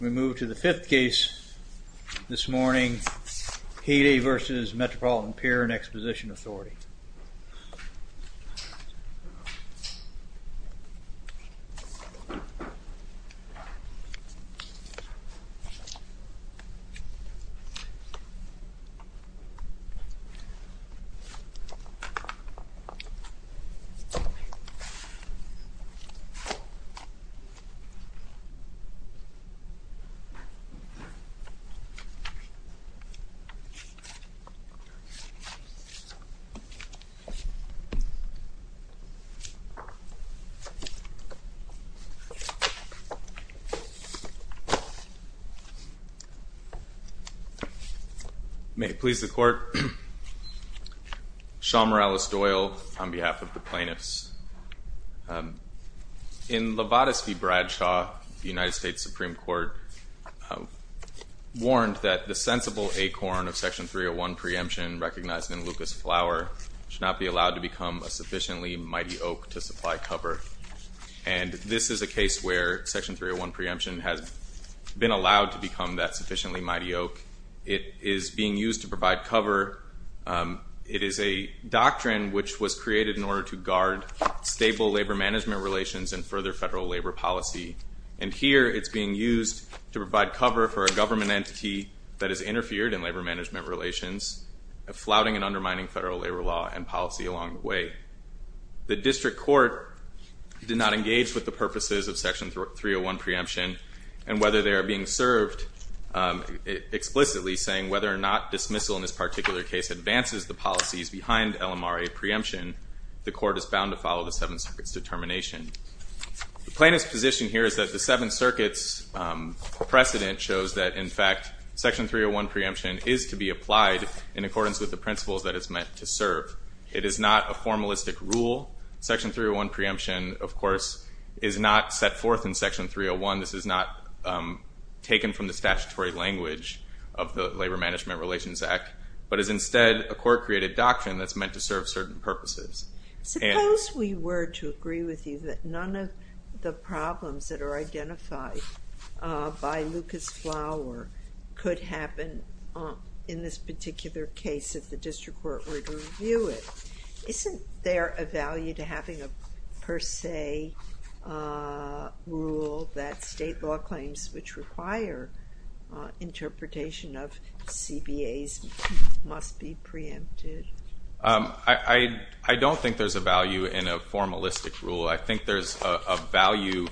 We move to the fifth case this morning, Healy v. Metropolitan Pier & Exposition Authority. May it please the Court, Sean Morales-Doyle on behalf of the plaintiffs. In Levadus v. Bradshaw, the United States Supreme Court warned that the sensible acorn of Section 301 preemption recognized in Lucas Flower should not be allowed to become a sufficiently mighty oak to supply cover. And this is a case where Section 301 preemption has been allowed to become that sufficiently mighty oak. It is being used to provide cover. It is a doctrine which was created in order to guard stable labor-management relations and further federal labor policy. And here it's being used to provide cover for a government entity that has interfered in labor-management relations, flouting and undermining federal labor law and policy along the way. The district court did not engage with the purposes of Section 301 preemption and whether they are being served explicitly, saying whether or not dismissal in this particular case advances the policies behind LMRA preemption, the court is bound to follow the Seventh Circuit's determination. The plaintiff's position here is that the Seventh Circuit's precedent shows that, in fact, Section 301 preemption is to be applied in accordance with the principles that it's meant to serve. It is not a formalistic rule. Section 301 preemption, of course, is not set forth in Section 301. This is not taken from the statutory language of the Labor Management Relations Act, but is instead a court-created doctrine that's meant to serve certain purposes. Suppose we were to agree with you that none of the problems that are identified by Lucas-Flower could happen in this particular case if the district court were to review it. Isn't there a value to having a per se rule that state law claims which require interpretation of CBAs must be preempted? I don't think there's a value in a formalistic rule. I think there's a value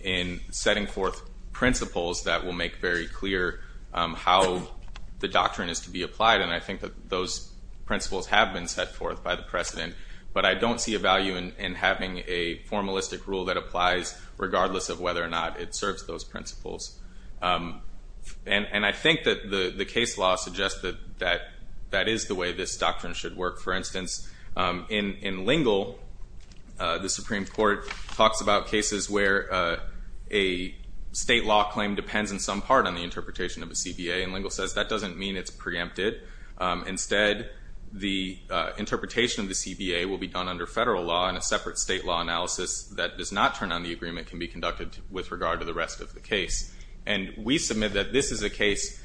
in setting forth principles that will make very clear how the doctrine is to be applied, and I think that those principles have been set forth by the precedent. But I don't see a value in having a formalistic rule that applies regardless of whether or not it serves those principles. And I think that the case law suggests that that is the way this doctrine should work. For instance, in Lingle, the Supreme Court talks about cases where a state law claim depends in some part on the interpretation of a CBA. And Lingle says that doesn't mean it's preempted. Instead, the interpretation of the CBA will be done under federal law, and a separate state law analysis that does not turn on the agreement can be conducted with regard to the rest of the case. And we submit that this is a case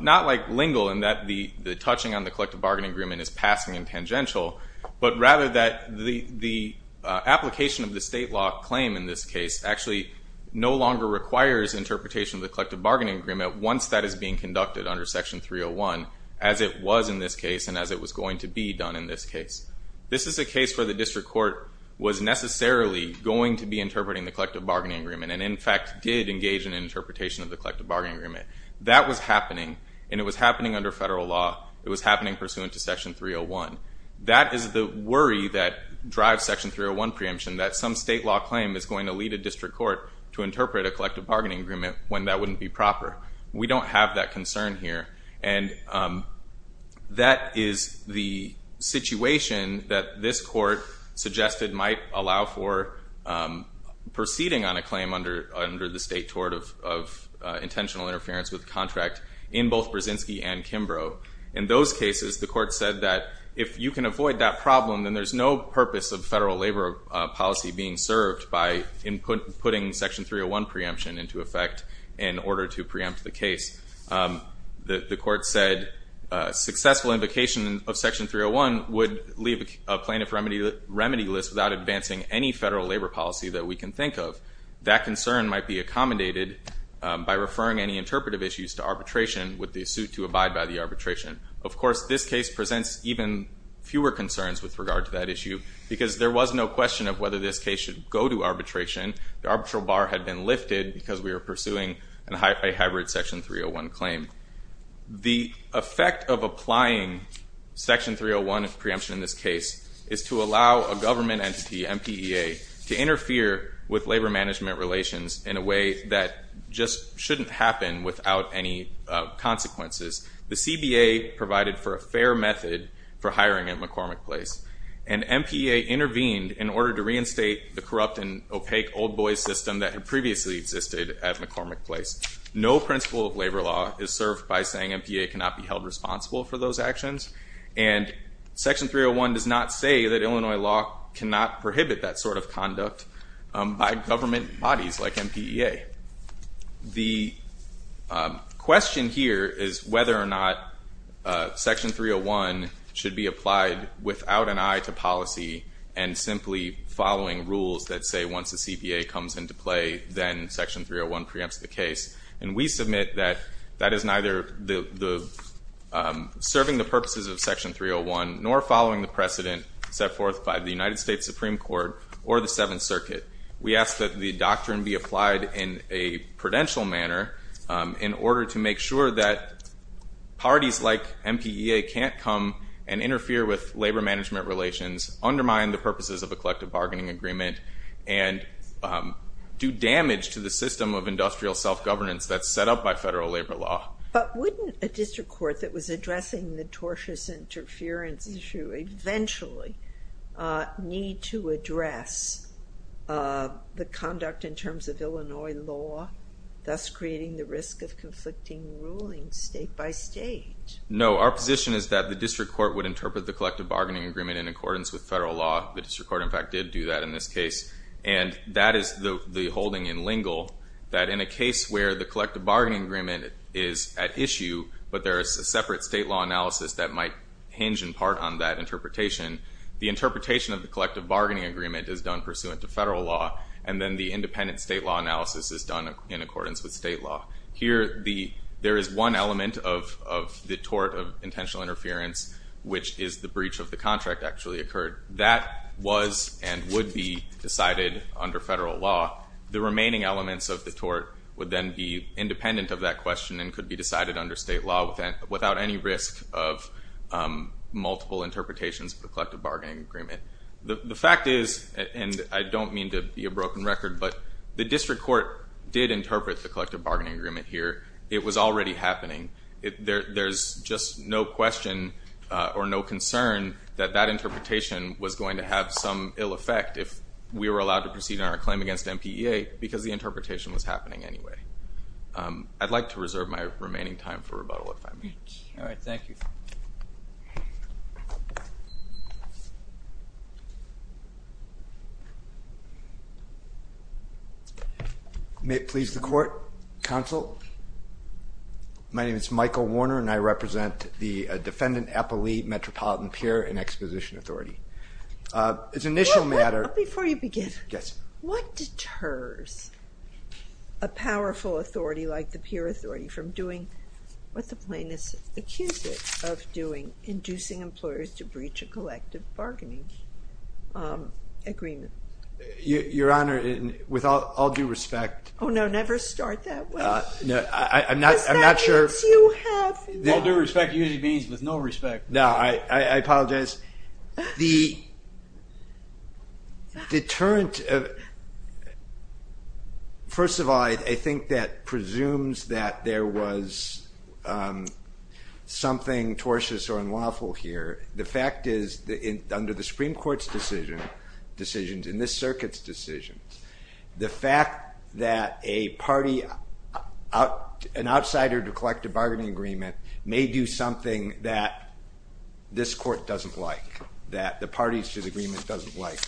not like Lingle in that the touching on the collective bargaining agreement is passing and tangential, but rather that the application of the state law claim in this case actually no longer requires interpretation of the collective bargaining agreement once that is being conducted under Section 301 as it was in this case and as it was going to be done in this case. This is a case where the district court was necessarily going to be interpreting the collective bargaining agreement and, in fact, did engage in an interpretation of the collective bargaining agreement. That was happening, and it was happening under federal law. It was happening pursuant to Section 301. That is the worry that drives Section 301 preemption, that some state law claim is going to lead a district court to interpret a collective bargaining agreement when that wouldn't be proper. We don't have that concern here. And that is the situation that this court suggested might allow for proceeding on a claim under the State Tort of Intentional Interference with Contract in both Brzezinski and Kimbrough. In those cases, the court said that if you can avoid that problem, then there's no purpose of federal labor policy being served by putting Section 301 preemption into effect in order to preempt the case. The court said successful invocation of Section 301 would leave a plaintiff remedy list without advancing any federal labor policy that we can think of. That concern might be accommodated by referring any interpretive issues to arbitration with the suit to abide by the arbitration. Of course, this case presents even fewer concerns with regard to that issue, because there was no question of whether this case should go to arbitration. The arbitral bar had been lifted because we were pursuing a hybrid Section 301 claim. The effect of applying Section 301 preemption in this case is to allow a government entity, MPEA, to interfere with labor management relations in a way that just shouldn't happen without any consequences. The CBA provided for a fair method for hiring at McCormick Place, and MPEA intervened in order to reinstate the corrupt and opaque old boys system that had previously existed at McCormick Place. No principle of labor law is served by saying MPEA cannot be held responsible for those actions, and Section 301 does not say that Illinois law cannot prohibit that sort of conduct by government bodies like MPEA. The question here is whether or not Section 301 should be applied without an eye to policy and simply following rules that say once the CBA comes into play, then Section 301 preempts the case. And we submit that that is neither serving the purposes of Section 301, nor following the precedent set forth by the United States Supreme Court or the Seventh Circuit. We ask that the doctrine be applied in a prudential manner in order to make sure that parties like MPEA can't come and interfere with labor management relations, undermine the purposes of a collective bargaining agreement, and do damage to the system of industrial self-governance that's set up by federal labor law. But wouldn't a district court that was addressing the tortious interference issue eventually need to address the conduct in terms of Illinois law, thus creating the risk of conflicting rulings state by state? No. Our position is that the district court would interpret the collective bargaining agreement in accordance with federal law. The district court, in fact, did do that in this case. And that is the holding in Lingle that in a case where the collective bargaining agreement is at issue but there is a separate state law analysis that might hinge in part on that interpretation, the interpretation of the collective bargaining agreement is done pursuant to federal law and then the independent state law analysis is done in accordance with state law. Here, there is one element of the tort of intentional interference, which is the breach of the contract actually occurred. That was and would be decided under federal law. The remaining elements of the tort would then be independent of that question and could be decided under state law without any risk of multiple interpretations of the collective bargaining agreement. The fact is, and I don't mean to be a broken record, but the district court did interpret the collective bargaining agreement here. It was already happening. There's just no question or no concern that that interpretation was going to have some ill effect if we were allowed to proceed in our claim against MPEA because the interpretation was happening anyway. I'd like to reserve my remaining time for rebuttal if I may. All right. Thank you. May it please the court? Counsel? My name is Michael Warner and I represent the Defendant Eppley Metropolitan Peer and Exposition Authority. It's an initial matter. Before you begin. Yes. What deters a powerful authority like the peer authority from doing what the plaintiffs accused it of doing, inducing employers to breach a collective bargaining agreement? Your Honor, with all due respect. Oh no, never start that way. I'm not sure. With all due respect, it usually means with no respect. No, I apologize. The deterrent, first of all, I think that presumes that there was something tortious or unlawful here. The fact is under the Supreme Court's decision, decisions in this circuit's decision, the fact that a party, an outsider to collective bargaining agreement, may do something that this court doesn't like, that the parties to the agreement doesn't like.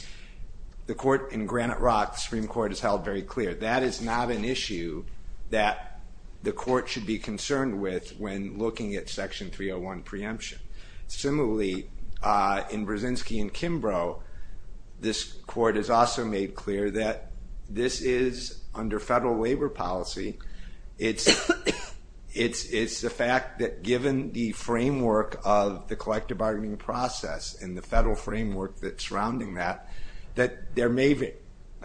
The court in Granite Rock, the Supreme Court has held very clear, that is not an issue that the court should be concerned with when looking at Section 301 preemption. Similarly, in Brzezinski and Kimbrough, this court has also made clear that this is under federal waiver policy. It's the fact that given the framework of the collective bargaining process and the federal framework that's surrounding that, that there may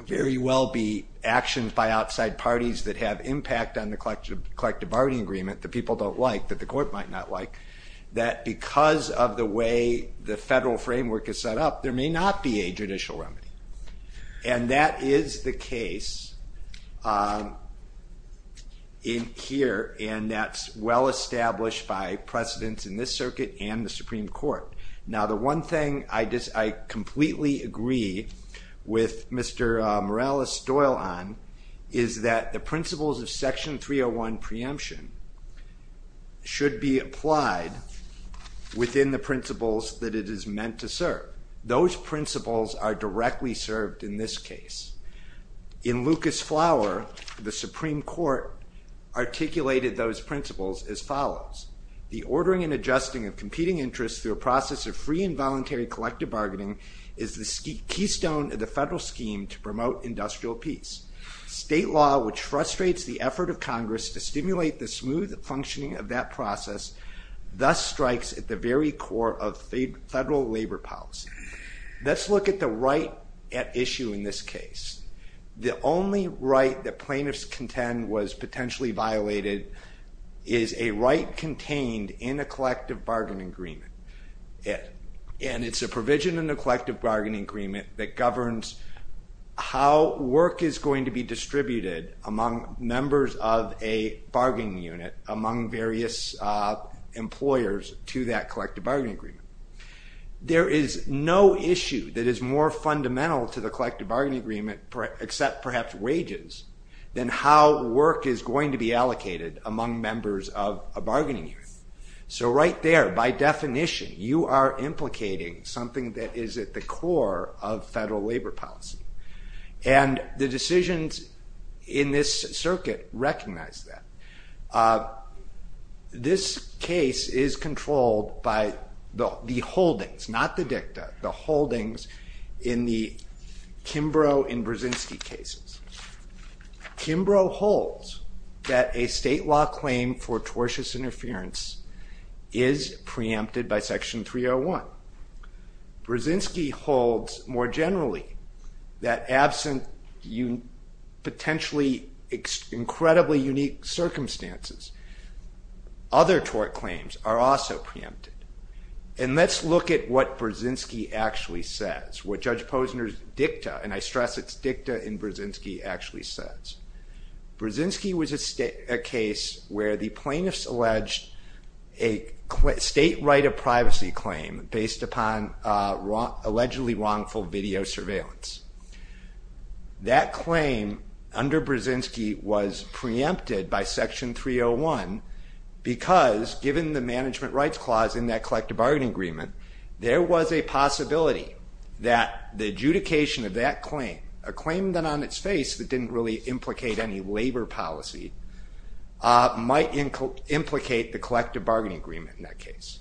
very well be actions by outside parties that have impact on the collective bargaining agreement that people don't like, that the court might not like, that because of the way the federal framework is set up, there may not be a judicial remedy. And that is the case here, and that's well established by precedents in this circuit and the Supreme Court. Now the one thing I completely agree with Mr. Morales-Doyle on, is that the principles of Section 301 preemption should be applied within the principles that it is meant to serve. Those principles are directly served in this case. In Lucas-Flower, the Supreme Court articulated those principles as follows. The ordering and adjusting of competing interests through a process of free and voluntary collective bargaining is the keystone of the federal scheme to promote industrial peace. State law, which frustrates the effort of Congress to stimulate the smooth functioning of that process, thus strikes at the very core of federal labor policy. Let's look at the right at issue in this case. The only right that plaintiffs contend was potentially violated is a right contained in a collective bargaining agreement. And it's a provision in the collective bargaining agreement that governs how work is going to be distributed among members of a bargaining unit, among various employers to that collective bargaining agreement. There is no issue that is more fundamental to the collective bargaining agreement, except perhaps wages, than how work is going to be allocated among members of a bargaining unit. So right there, by definition, you are implicating something that is at the core of federal labor policy. And the decisions in this circuit recognize that. This case is controlled by the holdings, not the dicta, the holdings in the Kimbrough and Brzezinski cases. Kimbrough holds that a state law claim for tortious interference is preempted by Section 301. Brzezinski holds, more generally, that absent potentially incredibly unique circumstances, other tort claims are also preempted. And let's look at what Brzezinski actually says, what Judge Posner's dicta, and I stress it's dicta in Brzezinski, actually says. Brzezinski was a case where the plaintiffs alleged a state right of privacy claim based upon allegedly wrongful video surveillance. That claim under Brzezinski was preempted by Section 301 because given the management rights clause in that collective bargaining agreement, there was a possibility that the adjudication of that claim, a claim then on its face that didn't really implicate any labor policy, might implicate the collective bargaining agreement in that case.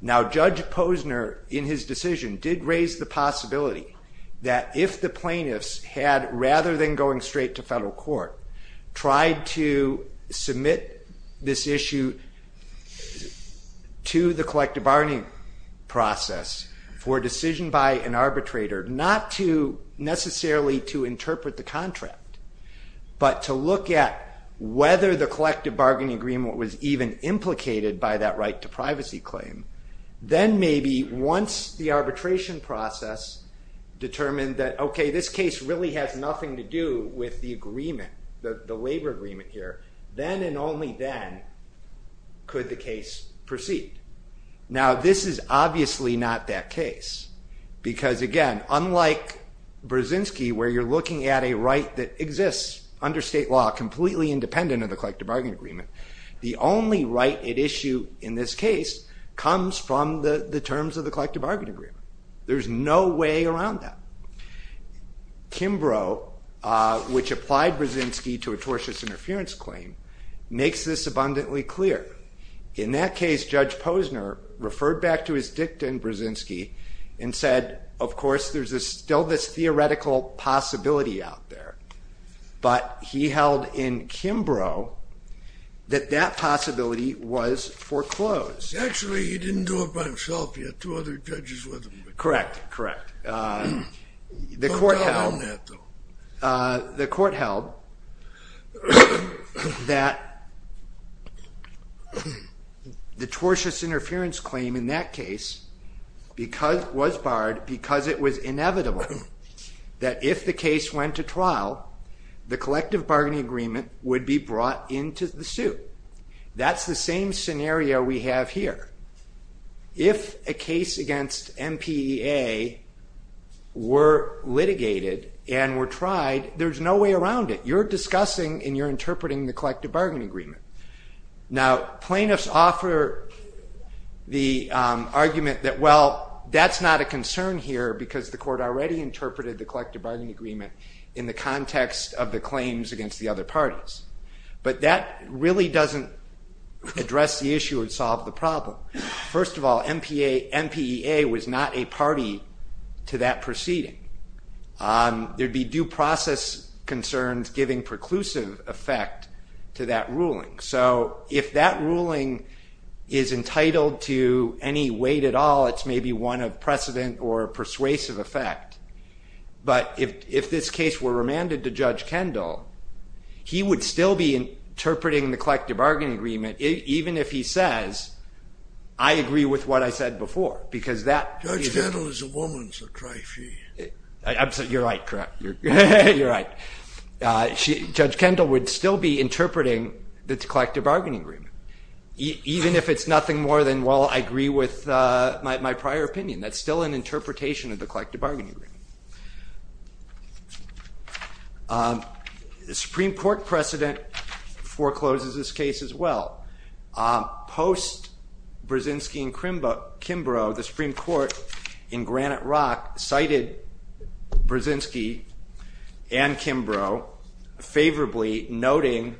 Now Judge Posner, in his decision, did raise the possibility that if the plaintiffs had, rather than going straight to federal court, tried to submit this issue to the collective bargaining process for decision by an arbitrator, not to necessarily to interpret the contract, but to look at whether the collective bargaining agreement was even implicated by that right to privacy claim, then maybe once the arbitration process determined that okay, this case really has nothing to do with the agreement, the labor agreement here, then and only then could the case proceed. Now this is obviously not that case because again, unlike Brzezinski, where you're looking at a right that exists under state law, completely independent of the collective bargaining agreement, the only right at issue in this case comes from the terms of the collective bargaining agreement. There's no way around that. Kimbrough, which applied Brzezinski to a tortious interference claim, makes this abundantly clear. In that case, Judge Posner referred back to his dictum, Brzezinski, and said of course there's still this theoretical possibility out there, but he held in Kimbrough that that possibility was foreclosed. Actually, he didn't do it by himself. He had two other judges with him. Correct, correct. The court held that the tortious interference claim in that case was barred because it was inevitable that if the case went to trial, the collective bargaining agreement would be brought into the suit. That's the same scenario we have here. If a case against MPEA were litigated and were tried, there's no way around it. You're discussing and you're interpreting the collective bargaining agreement. Now, plaintiffs offer the argument that, well, that's not a concern here because the court already interpreted the collective bargaining agreement in the context of the claims against the other parties. But that really doesn't address the issue and solve the problem. First of all, MPEA was not a party to that proceeding. There'd be due process concerns giving preclusive effect to that ruling. So if that ruling is entitled to any weight at all, it's maybe one of precedent or persuasive effect. But if this case were remanded to Judge Kendall, he would still be interpreting the collective bargaining agreement even if he says, I agree with what I said before. Judge Kendall is a woman, so try she. You're right, correct. You're right. Judge Kendall would still be interpreting the collective bargaining agreement even if it's nothing more than, well, I agree with my prior opinion. That's still an interpretation of the collective bargaining agreement. The Supreme Court precedent forecloses this case as well. Post Brzezinski and Kimbrough, the Supreme Court in Granite Rock cited Brzezinski and Kimbrough favorably noting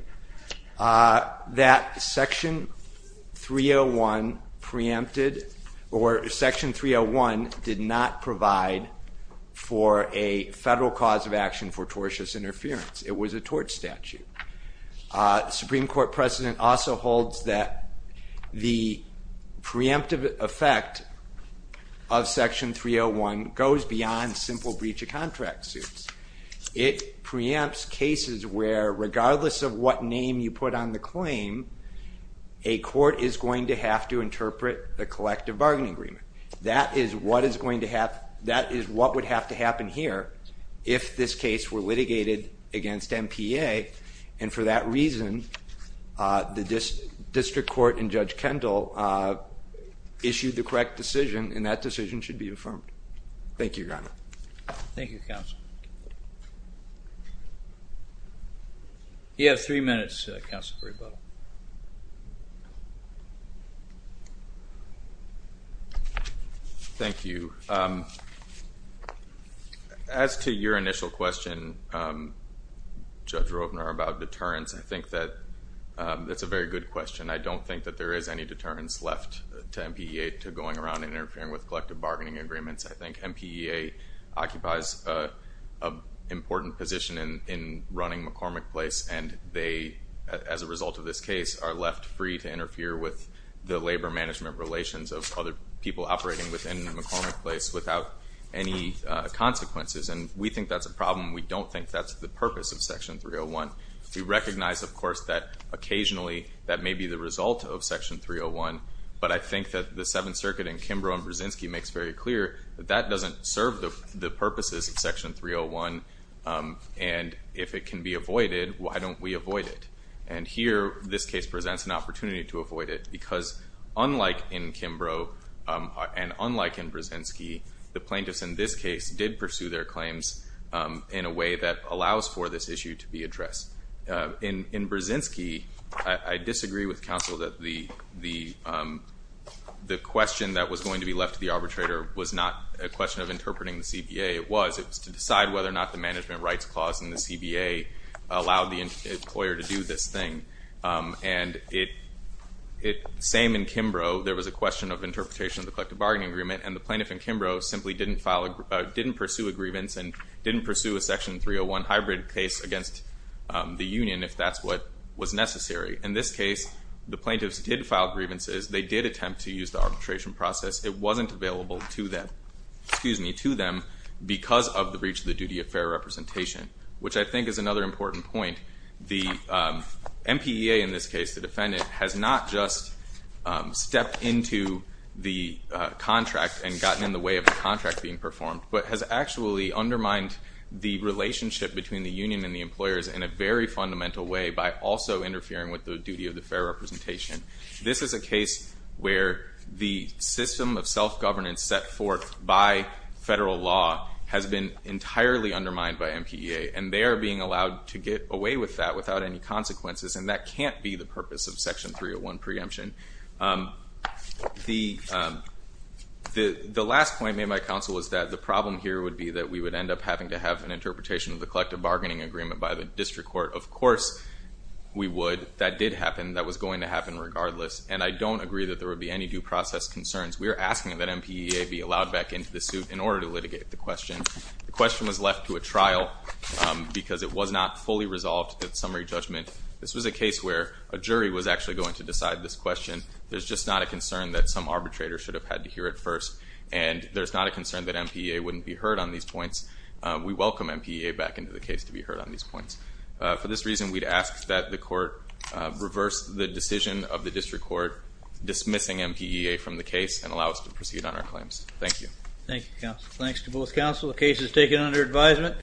that Section 301 preempted or Section 301 did not provide for a federal cause of action for tortious interference. It was a tort statute. The Supreme Court precedent also holds that the preemptive effect of Section 301 goes beyond simple breach of contract suits. It preempts cases where regardless of what name you put on the claim, a court is going to have to interpret the collective bargaining agreement. That is what would have to happen here if this case were litigated against MPA, and for that reason the district court and Judge Kendall issued the correct decision, and that decision should be affirmed. Thank you, Your Honor. Thank you, Counsel. You have three minutes, Counselor Brubeck. Thank you. As to your initial question, Judge Ropener, about deterrence, I think that that's a very good question. I don't think that there is any deterrence left to MPA to going around and interfering with collective bargaining agreements. I think MPA occupies an important position in running McCormick Place, and they, as a result of this case, are left free to interfere with the labor management relations of other people operating within McCormick Place without any consequences, and we think that's a problem. We don't think that's the purpose of Section 301. We recognize, of course, that occasionally that may be the result of Section 301, but I think that the Seventh Circuit in Kimbrough and Brzezinski makes very clear that that doesn't serve the purposes of Section 301, and if it can be avoided, why don't we avoid it? And here this case presents an opportunity to avoid it because, unlike in Kimbrough and unlike in Brzezinski, the plaintiffs in this case did pursue their claims in a way that allows for this issue to be addressed. In Brzezinski, I disagree with counsel that the question that was going to be left to the arbitrator was not a question of interpreting the CBA. It was. It was to decide whether or not the management rights clause in the CBA allowed the employer to do this thing, and same in Kimbrough. There was a question of interpretation of the collective bargaining agreement, and the plaintiff in Kimbrough simply didn't pursue a grievance if that's what was necessary. In this case, the plaintiffs did file grievances. They did attempt to use the arbitration process. It wasn't available to them because of the breach of the duty of fair representation, which I think is another important point. The MPEA in this case, the defendant, has not just stepped into the contract and gotten in the way of the contract being performed, but has actually undermined the relationship between the union and the employers in a very fundamental way by also interfering with the duty of the fair representation. This is a case where the system of self-governance set forth by federal law has been entirely undermined by MPEA, and they are being allowed to get away with that without any consequences, and that can't be the purpose of Section 301 preemption. The last point made by counsel was that the problem here would be that we would end up having to have an interpretation of the collective bargaining agreement by the district court. Of course we would. That did happen. That was going to happen regardless, and I don't agree that there would be any due process concerns. We are asking that MPEA be allowed back into the suit in order to litigate the question. The question was left to a trial because it was not fully resolved at summary judgment. This was a case where a jury was actually going to decide this question. There's just not a concern that some arbitrator should have had to hear it first, and there's not a concern that MPEA wouldn't be heard on these points. We welcome MPEA back into the case to be heard on these points. For this reason, we'd ask that the court reverse the decision of the district court dismissing MPEA from the case and allow us to proceed on our claims. Thank you. Thank you, counsel. Thanks to both counsel. The case is taken under advisement.